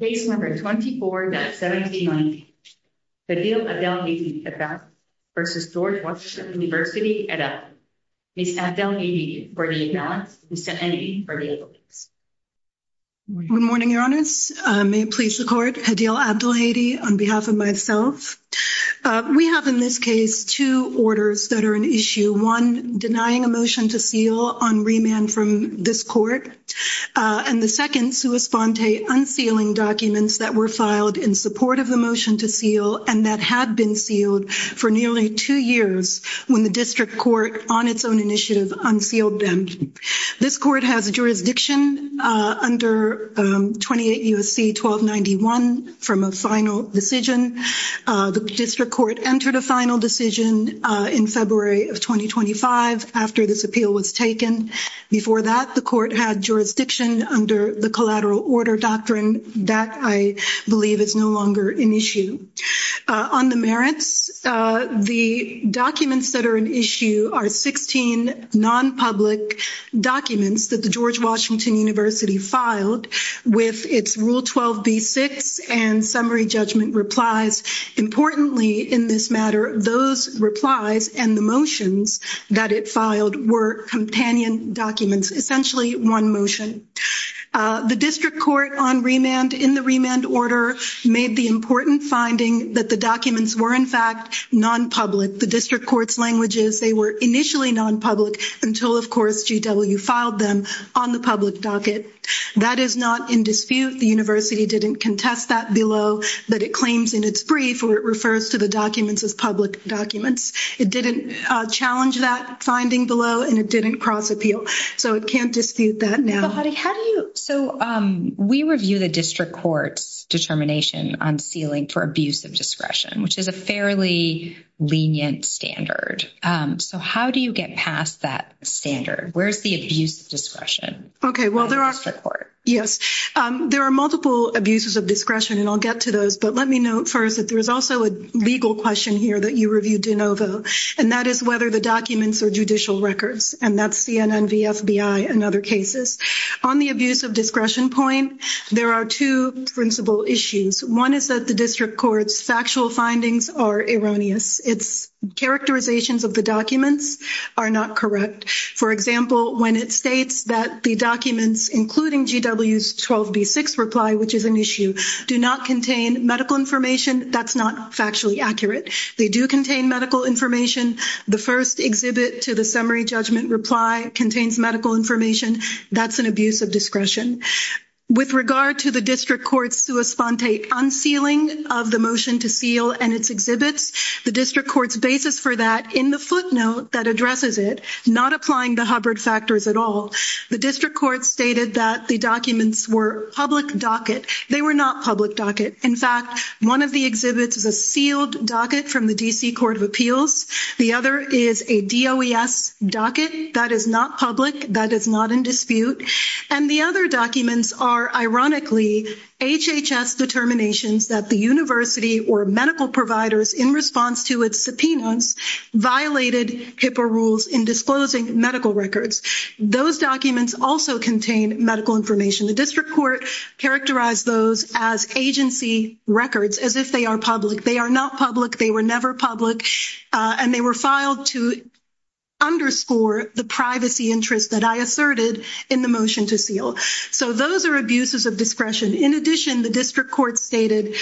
Case No. 24-1790, Hdeel Abdelhady v. George Washington University et al. Ms. Abdelhady for the imbalance, Mr. Endi for the evidence. Good morning, Your Honours. May it please the Court, Hdeel Abdelhady on behalf of myself. We have in this case two orders that are an issue. One, denying a motion to seal on remand from this Court. And the second, sua sponte, unsealing documents that were filed in support of the motion to seal and that had been sealed for nearly two years when the District Court, on its own initiative, unsealed them. This Court has jurisdiction under 28 U.S.C. 1291 from a final decision. The District Court entered a final decision in February of 2025 after this appeal was taken. Before that, the Court had jurisdiction under the Collateral Order Doctrine. That, I believe, is no longer an issue. On the merits, the documents that are an issue are 16 non-public documents that the George Washington University filed with its Rule 12b-6 and summary judgment replies. Importantly, in this matter, those replies and the motions that it filed were companion documents. Essentially, one motion. The District Court, in the remand order, made the important finding that the documents were, in fact, non-public. The District Court's languages, they were initially non-public until, of course, GW filed them on the public docket. That is not in dispute. The University didn't contest that below, but it claims in its brief where it refers to the documents as public documents. It didn't challenge that finding below, and it didn't cross-appeal. So it can't dispute that now. But, Hadi, how do you—so we review the District Court's determination on sealing for abuse of discretion, which is a fairly lenient standard. So how do you get past that standard? Where's the abuse of discretion in the District Court? Yes. There are multiple abuses of discretion, and I'll get to those, but let me note first that there's also a legal question here that you reviewed, DeNovo, and that is whether the documents are judicial records, and that's CNN v. FBI and other cases. On the abuse of discretion point, there are two principal issues. One is that the District Court's factual findings are erroneous. Its characterizations of the documents are not correct. For example, when it states that the documents, including GW's 12B6 reply, which is an issue, do not contain medical information, that's not factually accurate. They do contain medical information. The first exhibit to the summary judgment reply contains medical information. That's an abuse of discretion. With regard to the District Court's sua sponte unsealing of the motion to seal and its exhibits, the District Court's basis for that in the footnote that addresses it, not applying the Hubbard factors at all, the District Court stated that the documents were public docket. They were not public docket. In fact, one of the exhibits is a sealed docket from the D.C. Court of Appeals. The other is a DOES docket. That is not public. That is not in dispute. And the other documents are, ironically, HHS determinations that the university or medical providers in response to its subpoenas violated HIPAA rules in disclosing medical records. Those documents also contain medical information. The District Court characterized those as agency records, as if they are public. They are not public. They were never public. And they were filed to underscore the privacy interest that I asserted in the motion to seal. So those are abuses of discretion. In addition, the District Court stated,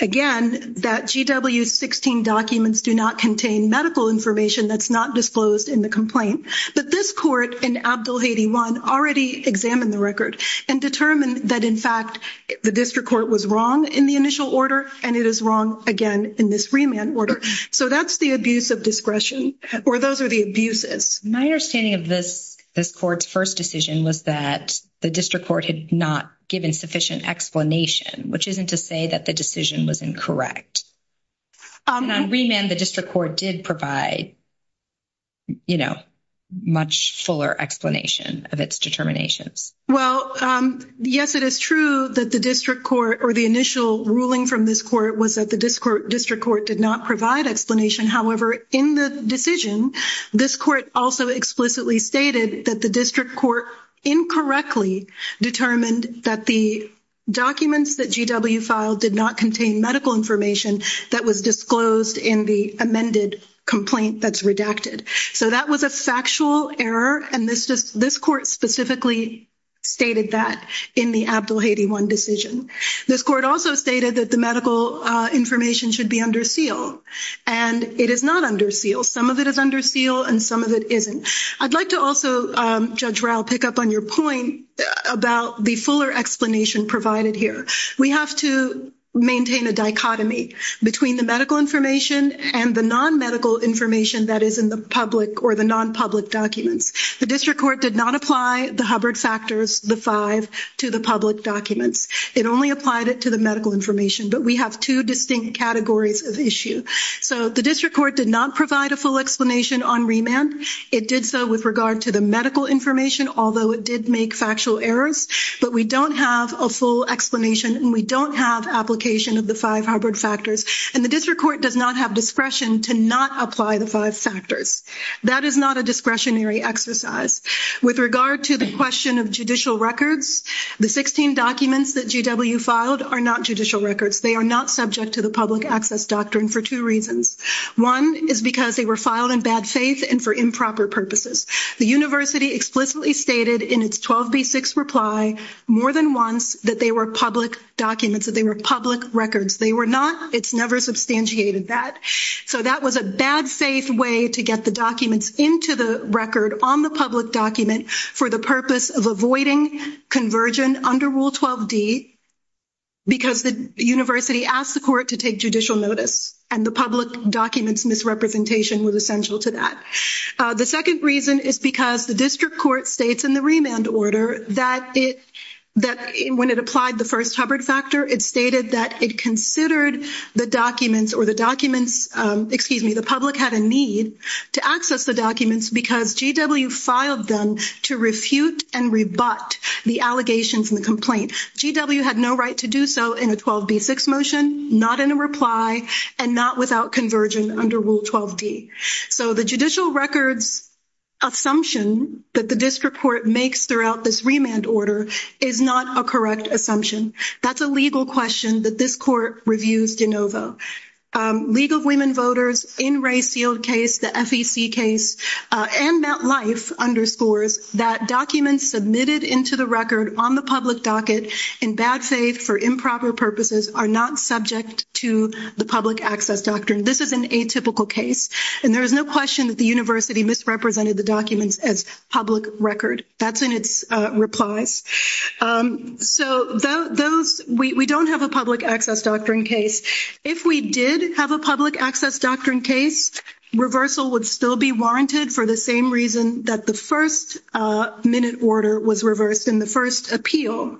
again, that GW-16 documents do not contain medical information that's not disclosed in the complaint. But this court in Abdel Haiti 1 already examined the record and determined that, in fact, the District Court was wrong in the initial order, and it is wrong, again, in this remand order. So that's the abuse of discretion, or those are the abuses. My understanding of this court's first decision was that the District Court had not given sufficient explanation, which isn't to say that the decision was incorrect. And on remand, the District Court did provide, you know, much fuller explanation of its determinations. Well, yes, it is true that the District Court, or the initial ruling from this court, was that the District Court did not provide explanation. However, in the decision, this court also explicitly stated that the District Court incorrectly determined that the documents that GW filed did not contain medical information that was disclosed in the amended complaint that's redacted. So that was a factual error, and this court specifically stated that in the Abdel Haiti 1 decision. This court also stated that the medical information should be under seal, and it is not under seal. Some of it is under seal, and some of it isn't. I'd like to also, Judge Rao, pick up on your point about the fuller explanation provided here. We have to maintain a dichotomy between the medical information and the non-medical information that is in the public or the non-public documents. The District Court did not apply the Hubbard factors, the five, to the public documents. It only applied it to the medical information, but we have two distinct categories of issue. So the District Court did not provide a full explanation on remand. It did so with regard to the medical information, although it did make factual errors. But we don't have a full explanation, and we don't have application of the five Hubbard factors. And the District Court does not have discretion to not apply the five factors. That is not a discretionary exercise. With regard to the question of judicial records, the 16 documents that GW filed are not judicial records. They are not subject to the public access doctrine for two reasons. One is because they were filed in bad faith and for improper purposes. The university explicitly stated in its 12B6 reply more than once that they were public documents, that they were public records. They were not. It's never substantiated that. So that was a bad faith way to get the documents into the record on the public document for the purpose of avoiding conversion under Rule 12D, because the university asked the court to take judicial notice, and the public documents misrepresentation was essential to that. The second reason is because the District Court states in the remand order that when it applied the first Hubbard factor, it stated that it considered the documents or the documents, excuse me, the public had a need to access the documents because GW filed them to refute and rebut the allegations in the complaint. GW had no right to do so in a 12B6 motion, not in a reply, and not without conversion under Rule 12D. So the judicial records assumption that the District Court makes throughout this remand order is not a correct assumption. That's a legal question that this court reviews de novo. League of Women Voters, in Ray Seald's case, the FEC case, and MetLife underscores that documents submitted into the record on the public docket in bad faith for improper purposes are not subject to the public access doctrine. This is an atypical case, and there is no question that the university misrepresented the documents as public record. That's in its replies. So we don't have a public access doctrine case. If we did have a public access doctrine case, reversal would still be warranted for the same reason that the first minute order was reversed in the first appeal.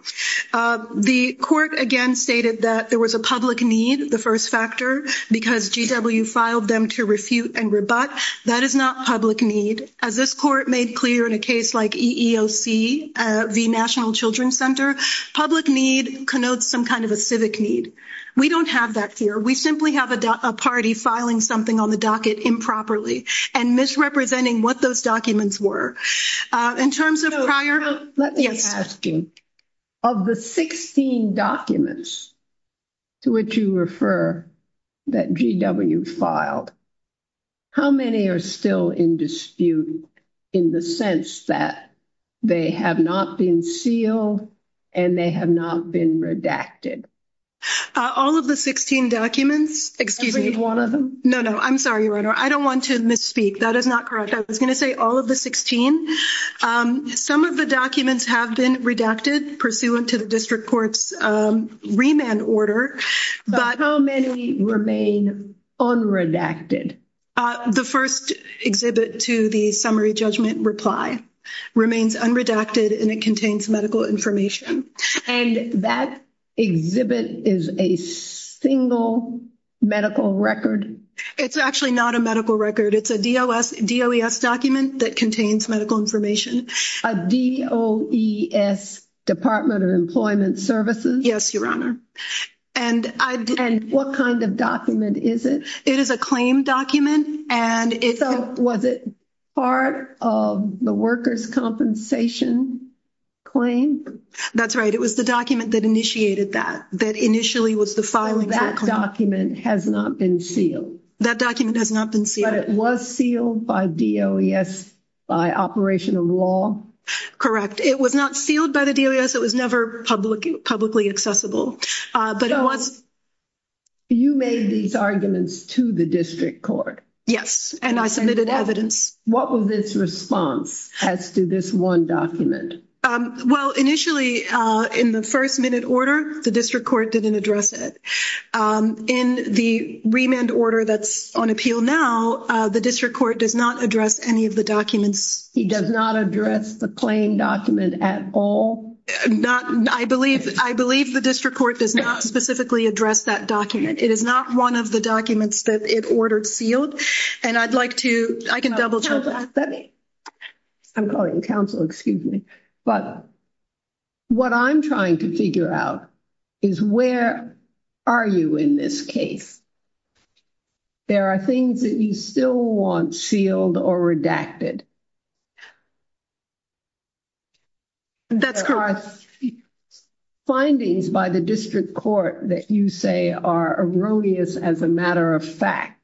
The court, again, stated that there was a public need, the first factor, because GW filed them to refute and rebut. That is not public need. As this court made clear in a case like EEOC v. National Children's Center, public need connotes some kind of a civic need. We don't have that here. We simply have a party filing something on the docket improperly and misrepresenting what those documents were. In terms of prior... Let me ask you, of the 16 documents to which you refer that GW filed, how many are still in dispute in the sense that they have not been sealed and they have not been redacted? All of the 16 documents? Excuse me. Every one of them? No, no. I'm sorry, Your Honor. I don't want to misspeak. That is not correct. I was going to say all of the 16. Some of the documents have been redacted pursuant to the district court's remand order. But how many remain unredacted? The first exhibit to the summary judgment reply remains unredacted and it contains medical information. And that exhibit is a single medical record? It's actually not a medical record. It's a DOES document that contains medical information. A DOES, Department of Employment Services? Yes, Your Honor. And what kind of document is it? It is a claim document. So was it part of the workers' compensation claim? That's right. It was the document that initiated that, that initially was the filing for the claim. That document has not been sealed? That document has not been sealed. But it was sealed by DOES by operation of law? Correct. It was not sealed by the DOES. It was never publicly accessible. So you made these arguments to the district court? Yes, and I submitted evidence. What was its response as to this one document? Well, initially, in the first-minute order, the district court didn't address it. In the remand order that's on appeal now, the district court does not address any of the documents. He does not address the claim document at all? I believe the district court does not specifically address that document. It is not one of the documents that it ordered sealed. And I'd like to – I can double-check that. I'm calling the counsel, excuse me. But what I'm trying to figure out is where are you in this case? There are things that you still want sealed or redacted. That's correct. Findings by the district court that you say are erroneous as a matter of fact.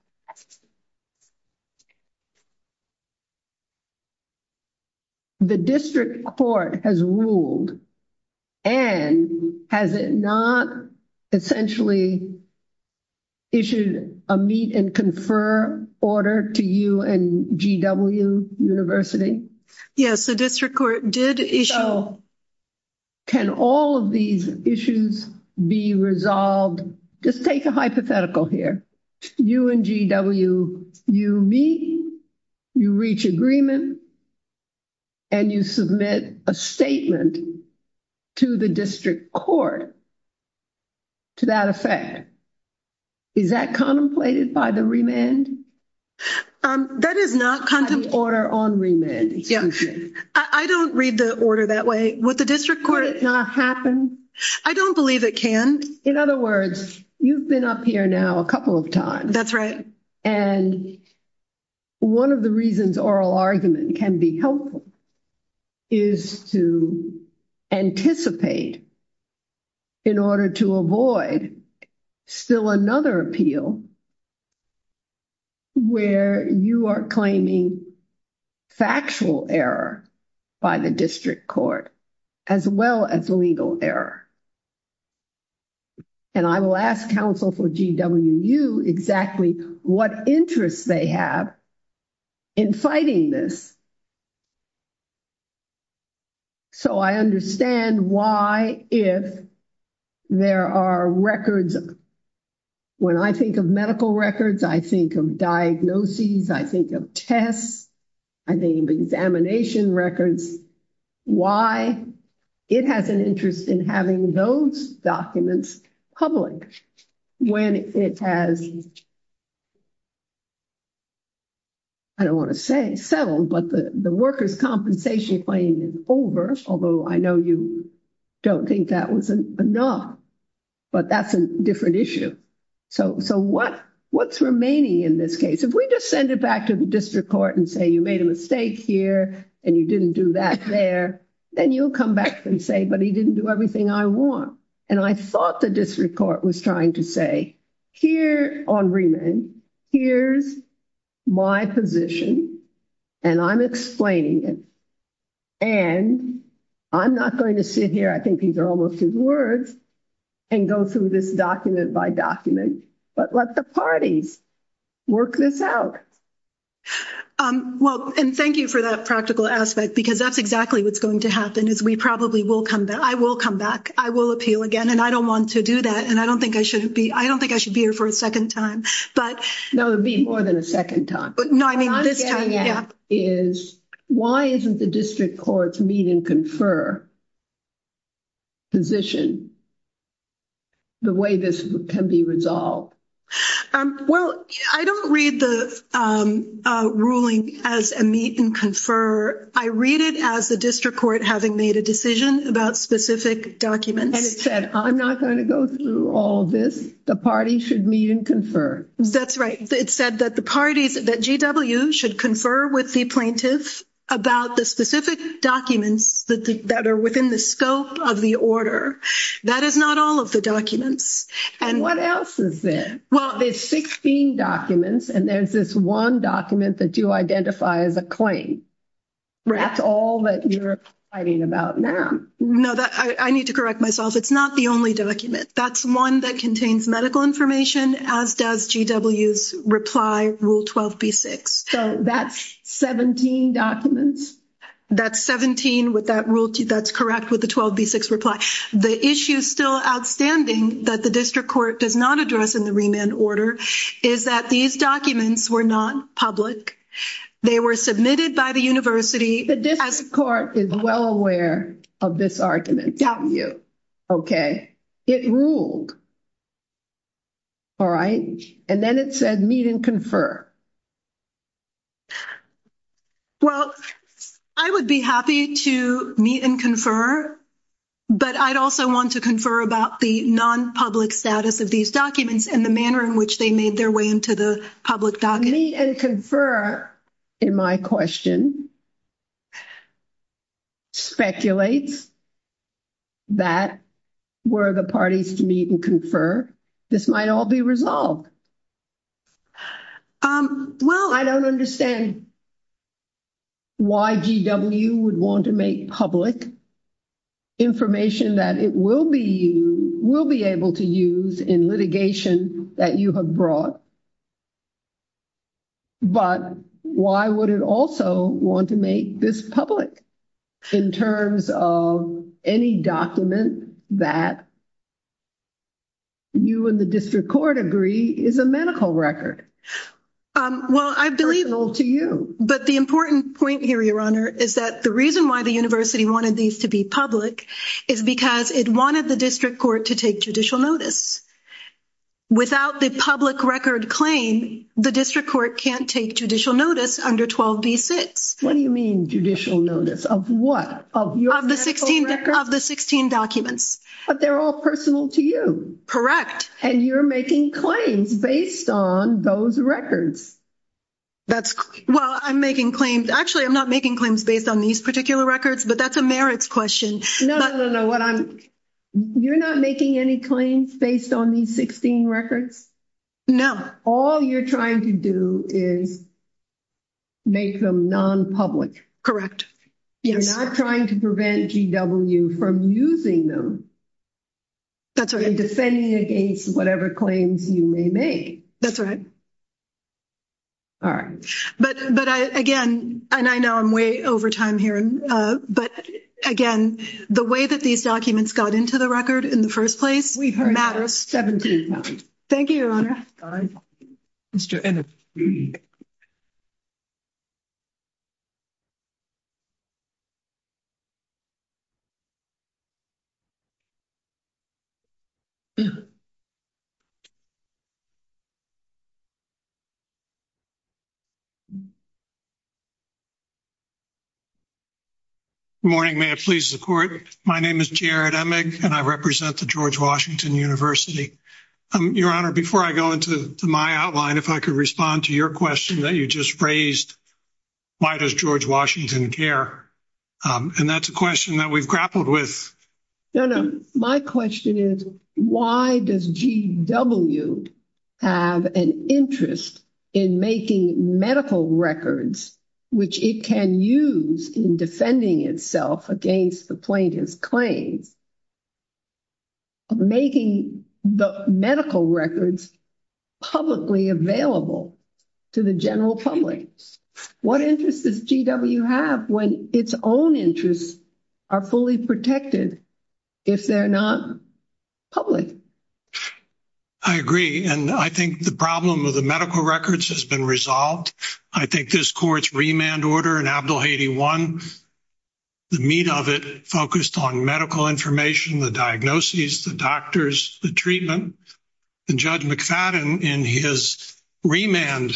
The district court has ruled, and has it not essentially issued a meet-and-confer order to you and GW University? Yes, the district court did issue – So can all of these issues be resolved? Just take a hypothetical here. You and GW, you meet, you reach agreement, and you submit a statement to the district court to that effect. Is that contemplated by the remand? That is not contemplated. By the order on remand, excuse me. I don't read the order that way. Would the district court – Would it not happen? I don't believe it can. In other words, you've been up here now a couple of times. That's right. One of the reasons oral argument can be helpful is to anticipate in order to avoid still another appeal where you are claiming factual error by the district court as well as legal error. I will ask counsel for GWU exactly what interests they have in fighting this So I understand why if there are records – when I think of medical records, I think of diagnoses, I think of tests, I think of examination records, why it has an interest in having those documents public when it has – I don't want to say settled, but the workers' compensation claim is over, although I know you don't think that was enough, but that's a different issue. So what's remaining in this case? If we just send it back to the district court and say you made a mistake here and you didn't do that there, then you'll come back and say, but he didn't do everything I want. And I thought the district court was trying to say, here on remand, here's my position, and I'm explaining it. And I'm not going to sit here, I think these are almost his words, and go through this document by document, but let the parties work this out. Well, and thank you for that practical aspect, because that's exactly what's going to happen is we probably will come back. I will come back. I will appeal again, and I don't want to do that, and I don't think I should be here for a second time. No, it would be more than a second time. No, I mean this time. What I'm getting at is why isn't the district court's meet-and-confer position the way this can be resolved? Well, I don't read the ruling as a meet-and-confer. I read it as the district court having made a decision about specific documents. And it said, I'm not going to go through all this. The party should meet and confer. That's right. It said that GW should confer with the plaintiff about the specific documents that are within the scope of the order. That is not all of the documents. And what else is there? Well, there's 16 documents, and there's this one document that you identify as a claim. That's all that you're writing about now. No, I need to correct myself. It's not the only document. That's one that contains medical information, as does GW's reply, Rule 12b-6. So that's 17 documents? That's 17 with that rule. That's correct with the 12b-6 reply. The issue still outstanding that the district court does not address in the remand order is that these documents were not public. They were submitted by the university. The district court is well aware of this argument. We doubt you. Okay. It ruled, all right? And then it said meet and confer. Well, I would be happy to meet and confer. But I'd also want to confer about the non-public status of these documents and the manner in which they made their way into the public docket. Meet and confer, in my question, speculates that were the parties to meet and confer, this might all be resolved. Well, I don't understand why GW would want to make public information that it will be able to use in litigation that you have brought. But why would it also want to make this public in terms of any document that you and the district court agree is a medical record? Well, I believe – Personal to you. But the important point here, Your Honor, is that the reason why the university wanted these to be public is because it wanted the district court to take judicial notice. Without the public record claim, the district court can't take judicial notice under 12b-6. What do you mean judicial notice? Of what? Of your medical records? Of the 16 documents. But they're all personal to you. Correct. And you're making claims based on those records. Well, I'm making claims – actually, I'm not making claims based on these particular records, but that's a merits question. No, no, no. You're not making any claims based on these 16 records? No. All you're trying to do is make them non-public. Correct. You're not trying to prevent GW from using them. That's right. In defending against whatever claims you may make. That's right. All right. But, again, and I know I'm way over time here, but, again, the way that these documents got into the record in the first place matters. We've heard that 17 times. Thank you, Your Honor. Mr. Ennis. Good morning. May it please the Court. My name is Jared Emig, and I represent the George Washington University. Your Honor, before I go into my outline, if I could respond to your question that you just raised, why does George Washington care? And that's a question that we've grappled with. No, no. My question is why does GW have an interest in making medical records, which it can use in defending itself against the plaintiff's claims, making the medical records publicly available to the general public? What interest does GW have when its own interests are fully protected if they're not public? I agree. And I think the problem of the medical records has been resolved. I think this Court's remand order in Abdel-Hady 1, the meat of it focused on medical information, the diagnoses, the doctors, the treatment. And Judge McFadden in his remand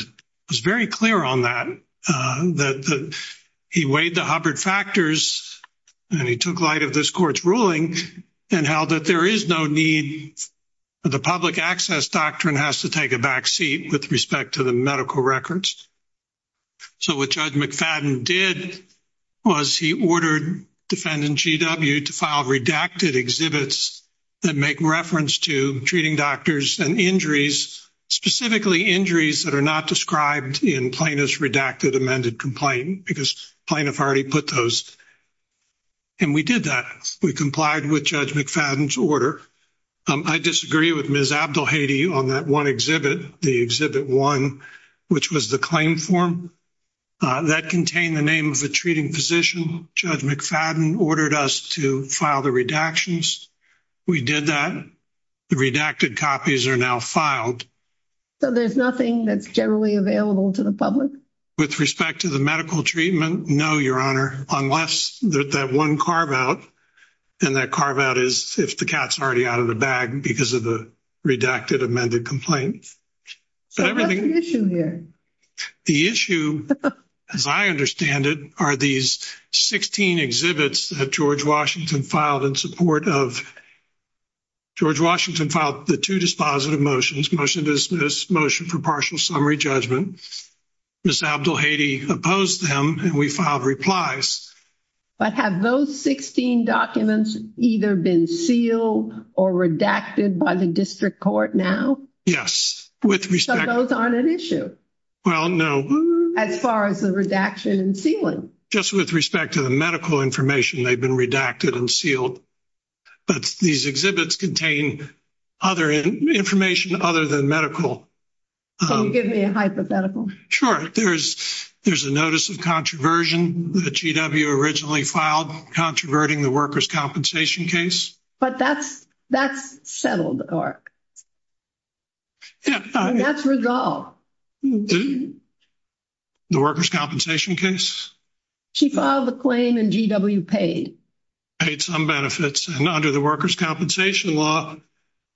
was very clear on that, that he weighed the Hubbard factors and he took light of this Court's ruling and held that there is no need for the public access doctrine has to take a backseat with respect to the medical records. So what Judge McFadden did was he ordered defendant GW to file redacted exhibits that make reference to treating doctors and injuries, specifically injuries that are not described in plaintiff's redacted amended complaint because plaintiff already put those. And we did that. We complied with Judge McFadden's order. I disagree with Ms. Abdel-Hady on that one exhibit, the Exhibit 1, which was the claim form that contained the name of the treating physician. Judge McFadden ordered us to file the redactions. We did that. The redacted copies are now filed. So there's nothing that's generally available to the public? With respect to the medical treatment, no, Your Honor, unless that one carve-out and that carve-out is if the cat's already out of the bag because of the redacted amended complaint. So what's the issue here? The issue, as I understand it, are these 16 exhibits that George Washington filed in support of. George Washington filed the two dispositive motions, motion to dismiss, motion for partial summary judgment. Ms. Abdel-Hady opposed them, and we filed replies. But have those 16 documents either been sealed or redacted by the district court now? Yes. So those aren't an issue? Well, no. As far as the redaction and sealing? Just with respect to the medical information, they've been redacted and sealed. But these exhibits contain other information other than medical. Can you give me a hypothetical? Sure. There's a notice of controversy that GW originally filed, controverting the workers' compensation case. But that's settled, or that's resolved. The workers' compensation case? She filed the claim, and GW paid. Paid some benefits, and under the workers' compensation law,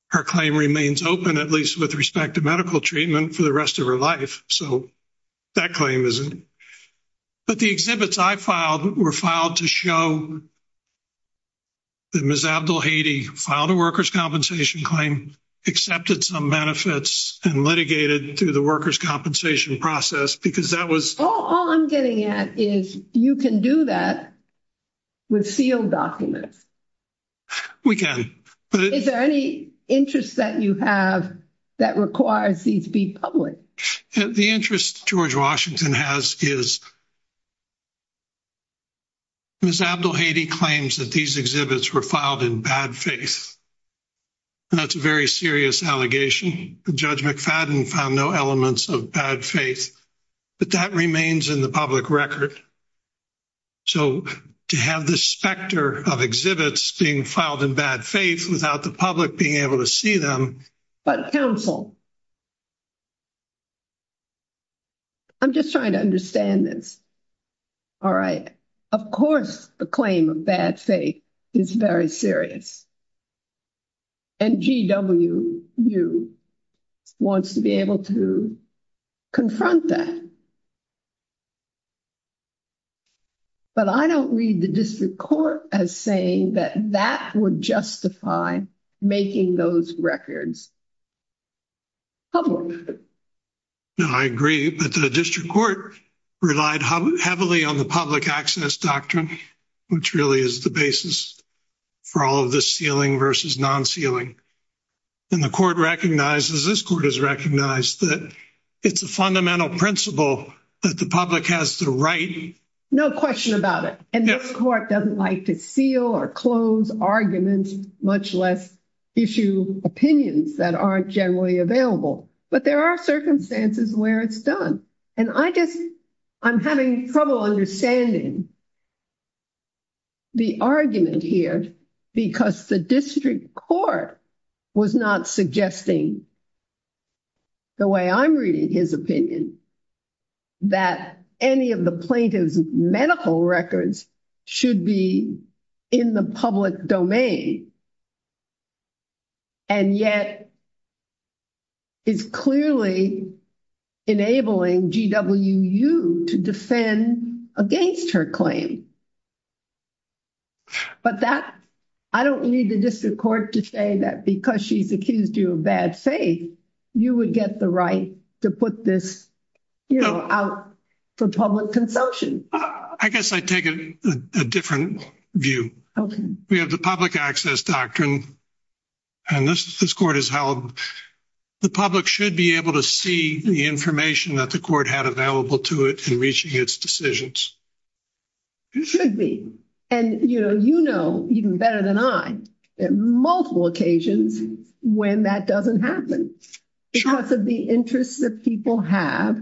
her claim remains open, at least with respect to medical treatment, for the rest of her life. So that claim isn't. But the exhibits I filed were filed to show that Ms. Abdel-Hady filed a workers' compensation claim, accepted some benefits, and litigated through the workers' compensation process, because that was. All I'm getting at is you can do that with sealed documents. We can. Is there any interest that you have that requires these be public? The interest George Washington has is Ms. Abdel-Hady claims that these exhibits were filed in bad faith, and that's a very serious allegation. Judge McFadden found no elements of bad faith, but that remains in the public record. So to have this specter of exhibits being filed in bad faith without the public being able to see them. But counsel, I'm just trying to understand this. Of course the claim of bad faith is very serious. And GWU wants to be able to confront that. But I don't read the district court as saying that that would justify making those records public. No, I agree. But the district court relied heavily on the public access doctrine, which really is the basis for all of this sealing versus non-sealing. And the court recognizes, this court has recognized, that it's a fundamental principle that the public has the right. No question about it. And this court doesn't like to seal or close arguments, much less issue opinions that aren't generally available. But there are circumstances where it's done. And I just, I'm having trouble understanding the argument here, because the district court was not suggesting the way I'm reading his opinion, that any of the plaintiff's medical records should be in the public domain. And yet it's clearly enabling GWU to defend against her claim. But that, I don't need the district court to say that, because she's accused you of bad faith, you would get the right to put this out for public consumption. I guess I take a different view. We have the public access doctrine, and this court is held. The public should be able to see the information that the court had available to it in reaching its decisions. It should be. And you know even better than I, multiple occasions when that doesn't happen because of the interests that people have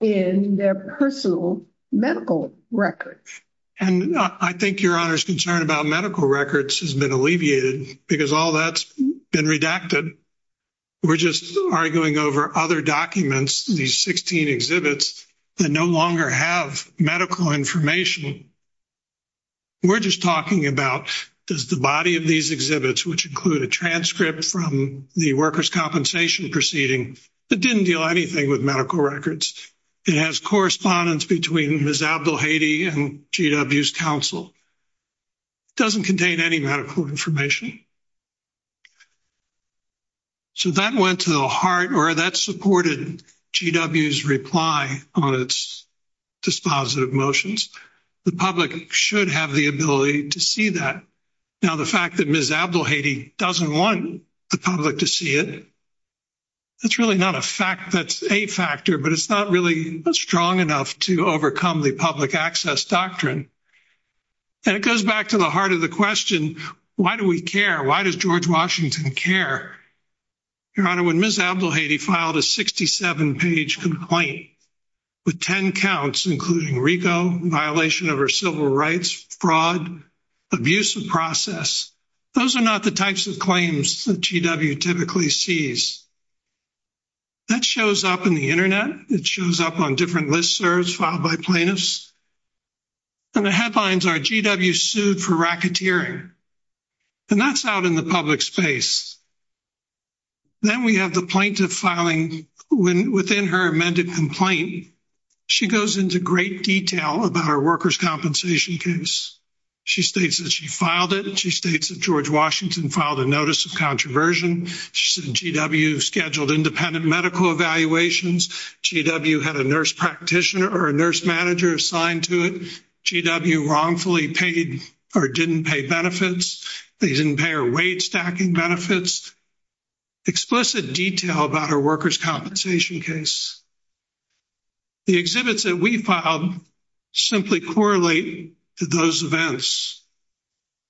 in their personal medical records. And I think your honor's concern about medical records has been alleviated because all that's been redacted. We're just arguing over other documents, these 16 exhibits that no longer have medical information. We're just talking about does the body of these exhibits, which include a transcript from the worker's compensation proceeding, that didn't deal anything with medical records. It has correspondence between Ms. Abdel-Hadi and GW's counsel. It doesn't contain any medical information. So that went to the heart, or that supported GW's reply on its dispositive motions. The public should have the ability to see that. Now the fact that Ms. Abdel-Hadi doesn't want the public to see it, that's really not a fact that's a factor, but it's not really strong enough to overcome the public access doctrine. And it goes back to the heart of the question, why do we care? Why does George Washington care? Your honor, when Ms. Abdel-Hadi filed a 67-page complaint with 10 counts, including RICO, violation of her civil rights, fraud, abuse of process, those are not the types of claims that GW typically sees. That shows up in the Internet. It shows up on different listservs filed by plaintiffs. And the headlines are GW sued for racketeering. And that's out in the public space. Then we have the plaintiff filing within her amended complaint. She goes into great detail about her workers' compensation case. She states that she filed it. She states that George Washington filed a notice of controversy. She said GW scheduled independent medical evaluations. GW had a nurse practitioner or a nurse manager assigned to it. GW wrongfully paid or didn't pay benefits. They didn't pay her wage-stacking benefits. Explicit detail about her workers' compensation case. The exhibits that we filed simply correlate to those events.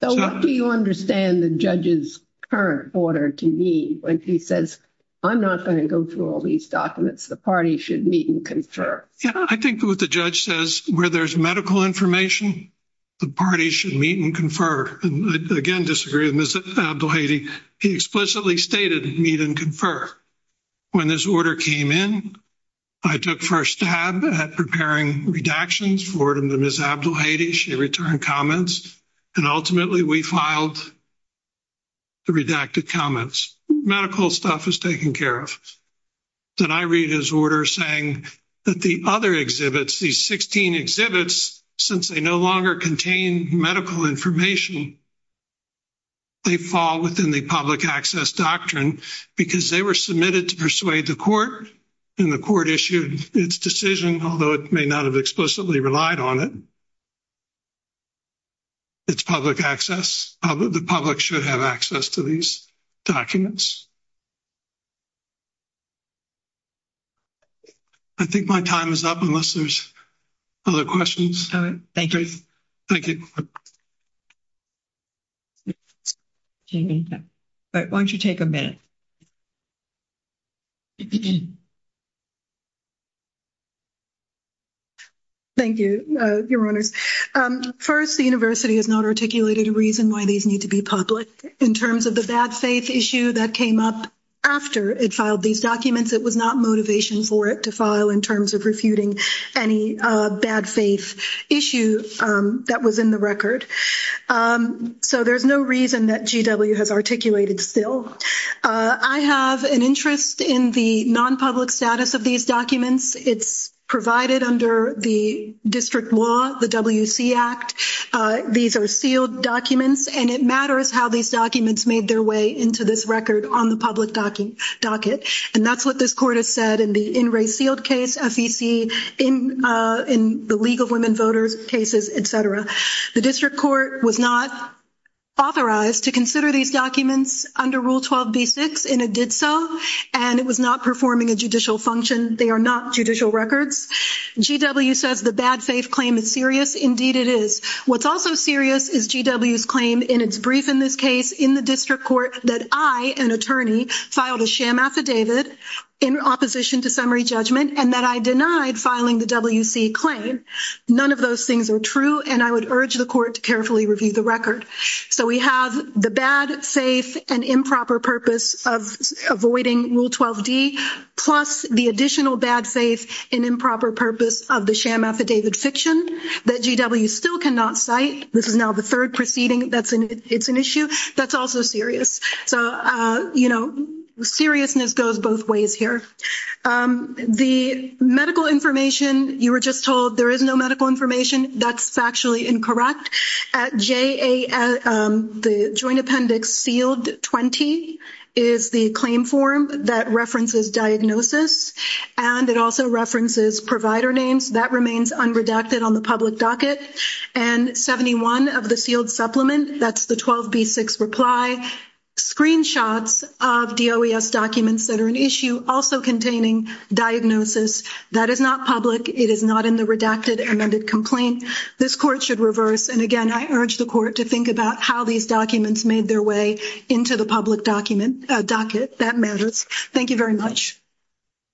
So what do you understand the judge's current order to me when he says, I'm not going to go through all these documents. The party should meet and confer. Yeah, I think what the judge says, where there's medical information, the party should meet and confer. Again, disagree with Ms. Abdel-Hadi. He explicitly stated meet and confer. When this order came in, I took first stab at preparing redactions for Ms. Abdel-Hadi. She returned comments. And ultimately, we filed the redacted comments. Medical stuff is taken care of. Then I read his order saying that the other exhibits, these 16 exhibits, since they no longer contain medical information, they fall within the public access doctrine because they were submitted to persuade the court, and the court issued its decision, although it may not have explicitly relied on it. It's public access. The public should have access to these documents. I think my time is up unless there's other questions. Thank you. Thank you. Jamie, why don't you take a minute? Thank you, Your Honors. First, the university has not articulated a reason why these need to be public in terms of the bad faith issue that we've been talking about. The reason that came up after it filed these documents, it was not motivation for it to file in terms of refuting any bad faith issue that was in the record. So there's no reason that GW has articulated still. I have an interest in the non-public status of these documents. It's provided under the district law, the WC Act. These are sealed documents, and it matters how these documents made their way into this record on the public docket. And that's what this court has said in the in-race sealed case, FEC, in the League of Women Voters cases, et cetera. The district court was not authorized to consider these documents under Rule 12b-6, and it did so, and it was not performing a judicial function. They are not judicial records. GW says the bad faith claim is serious. Indeed, it is. What's also serious is GW's claim in its brief in this case in the district court that I, an attorney, filed a sham affidavit in opposition to summary judgment, and that I denied filing the WC claim. None of those things are true, and I would urge the court to carefully review the record. So we have the bad faith and improper purpose of avoiding Rule 12d, plus the additional bad faith and improper purpose of the sham affidavit in fiction that GW still cannot cite. This is now the third proceeding that's an issue that's also serious. So, you know, seriousness goes both ways here. The medical information, you were just told there is no medical information. That's factually incorrect. At JA, the joint appendix sealed 20 is the claim form that references diagnosis, and it also references provider names. That remains unredacted on the public docket. And 71 of the sealed supplement, that's the 12b6 reply, screenshots of DOES documents that are an issue also containing diagnosis. That is not public. It is not in the redacted amended complaint. This court should reverse. And again, I urge the court to think about how these documents made their way into the public docket. That matters. Thank you very much.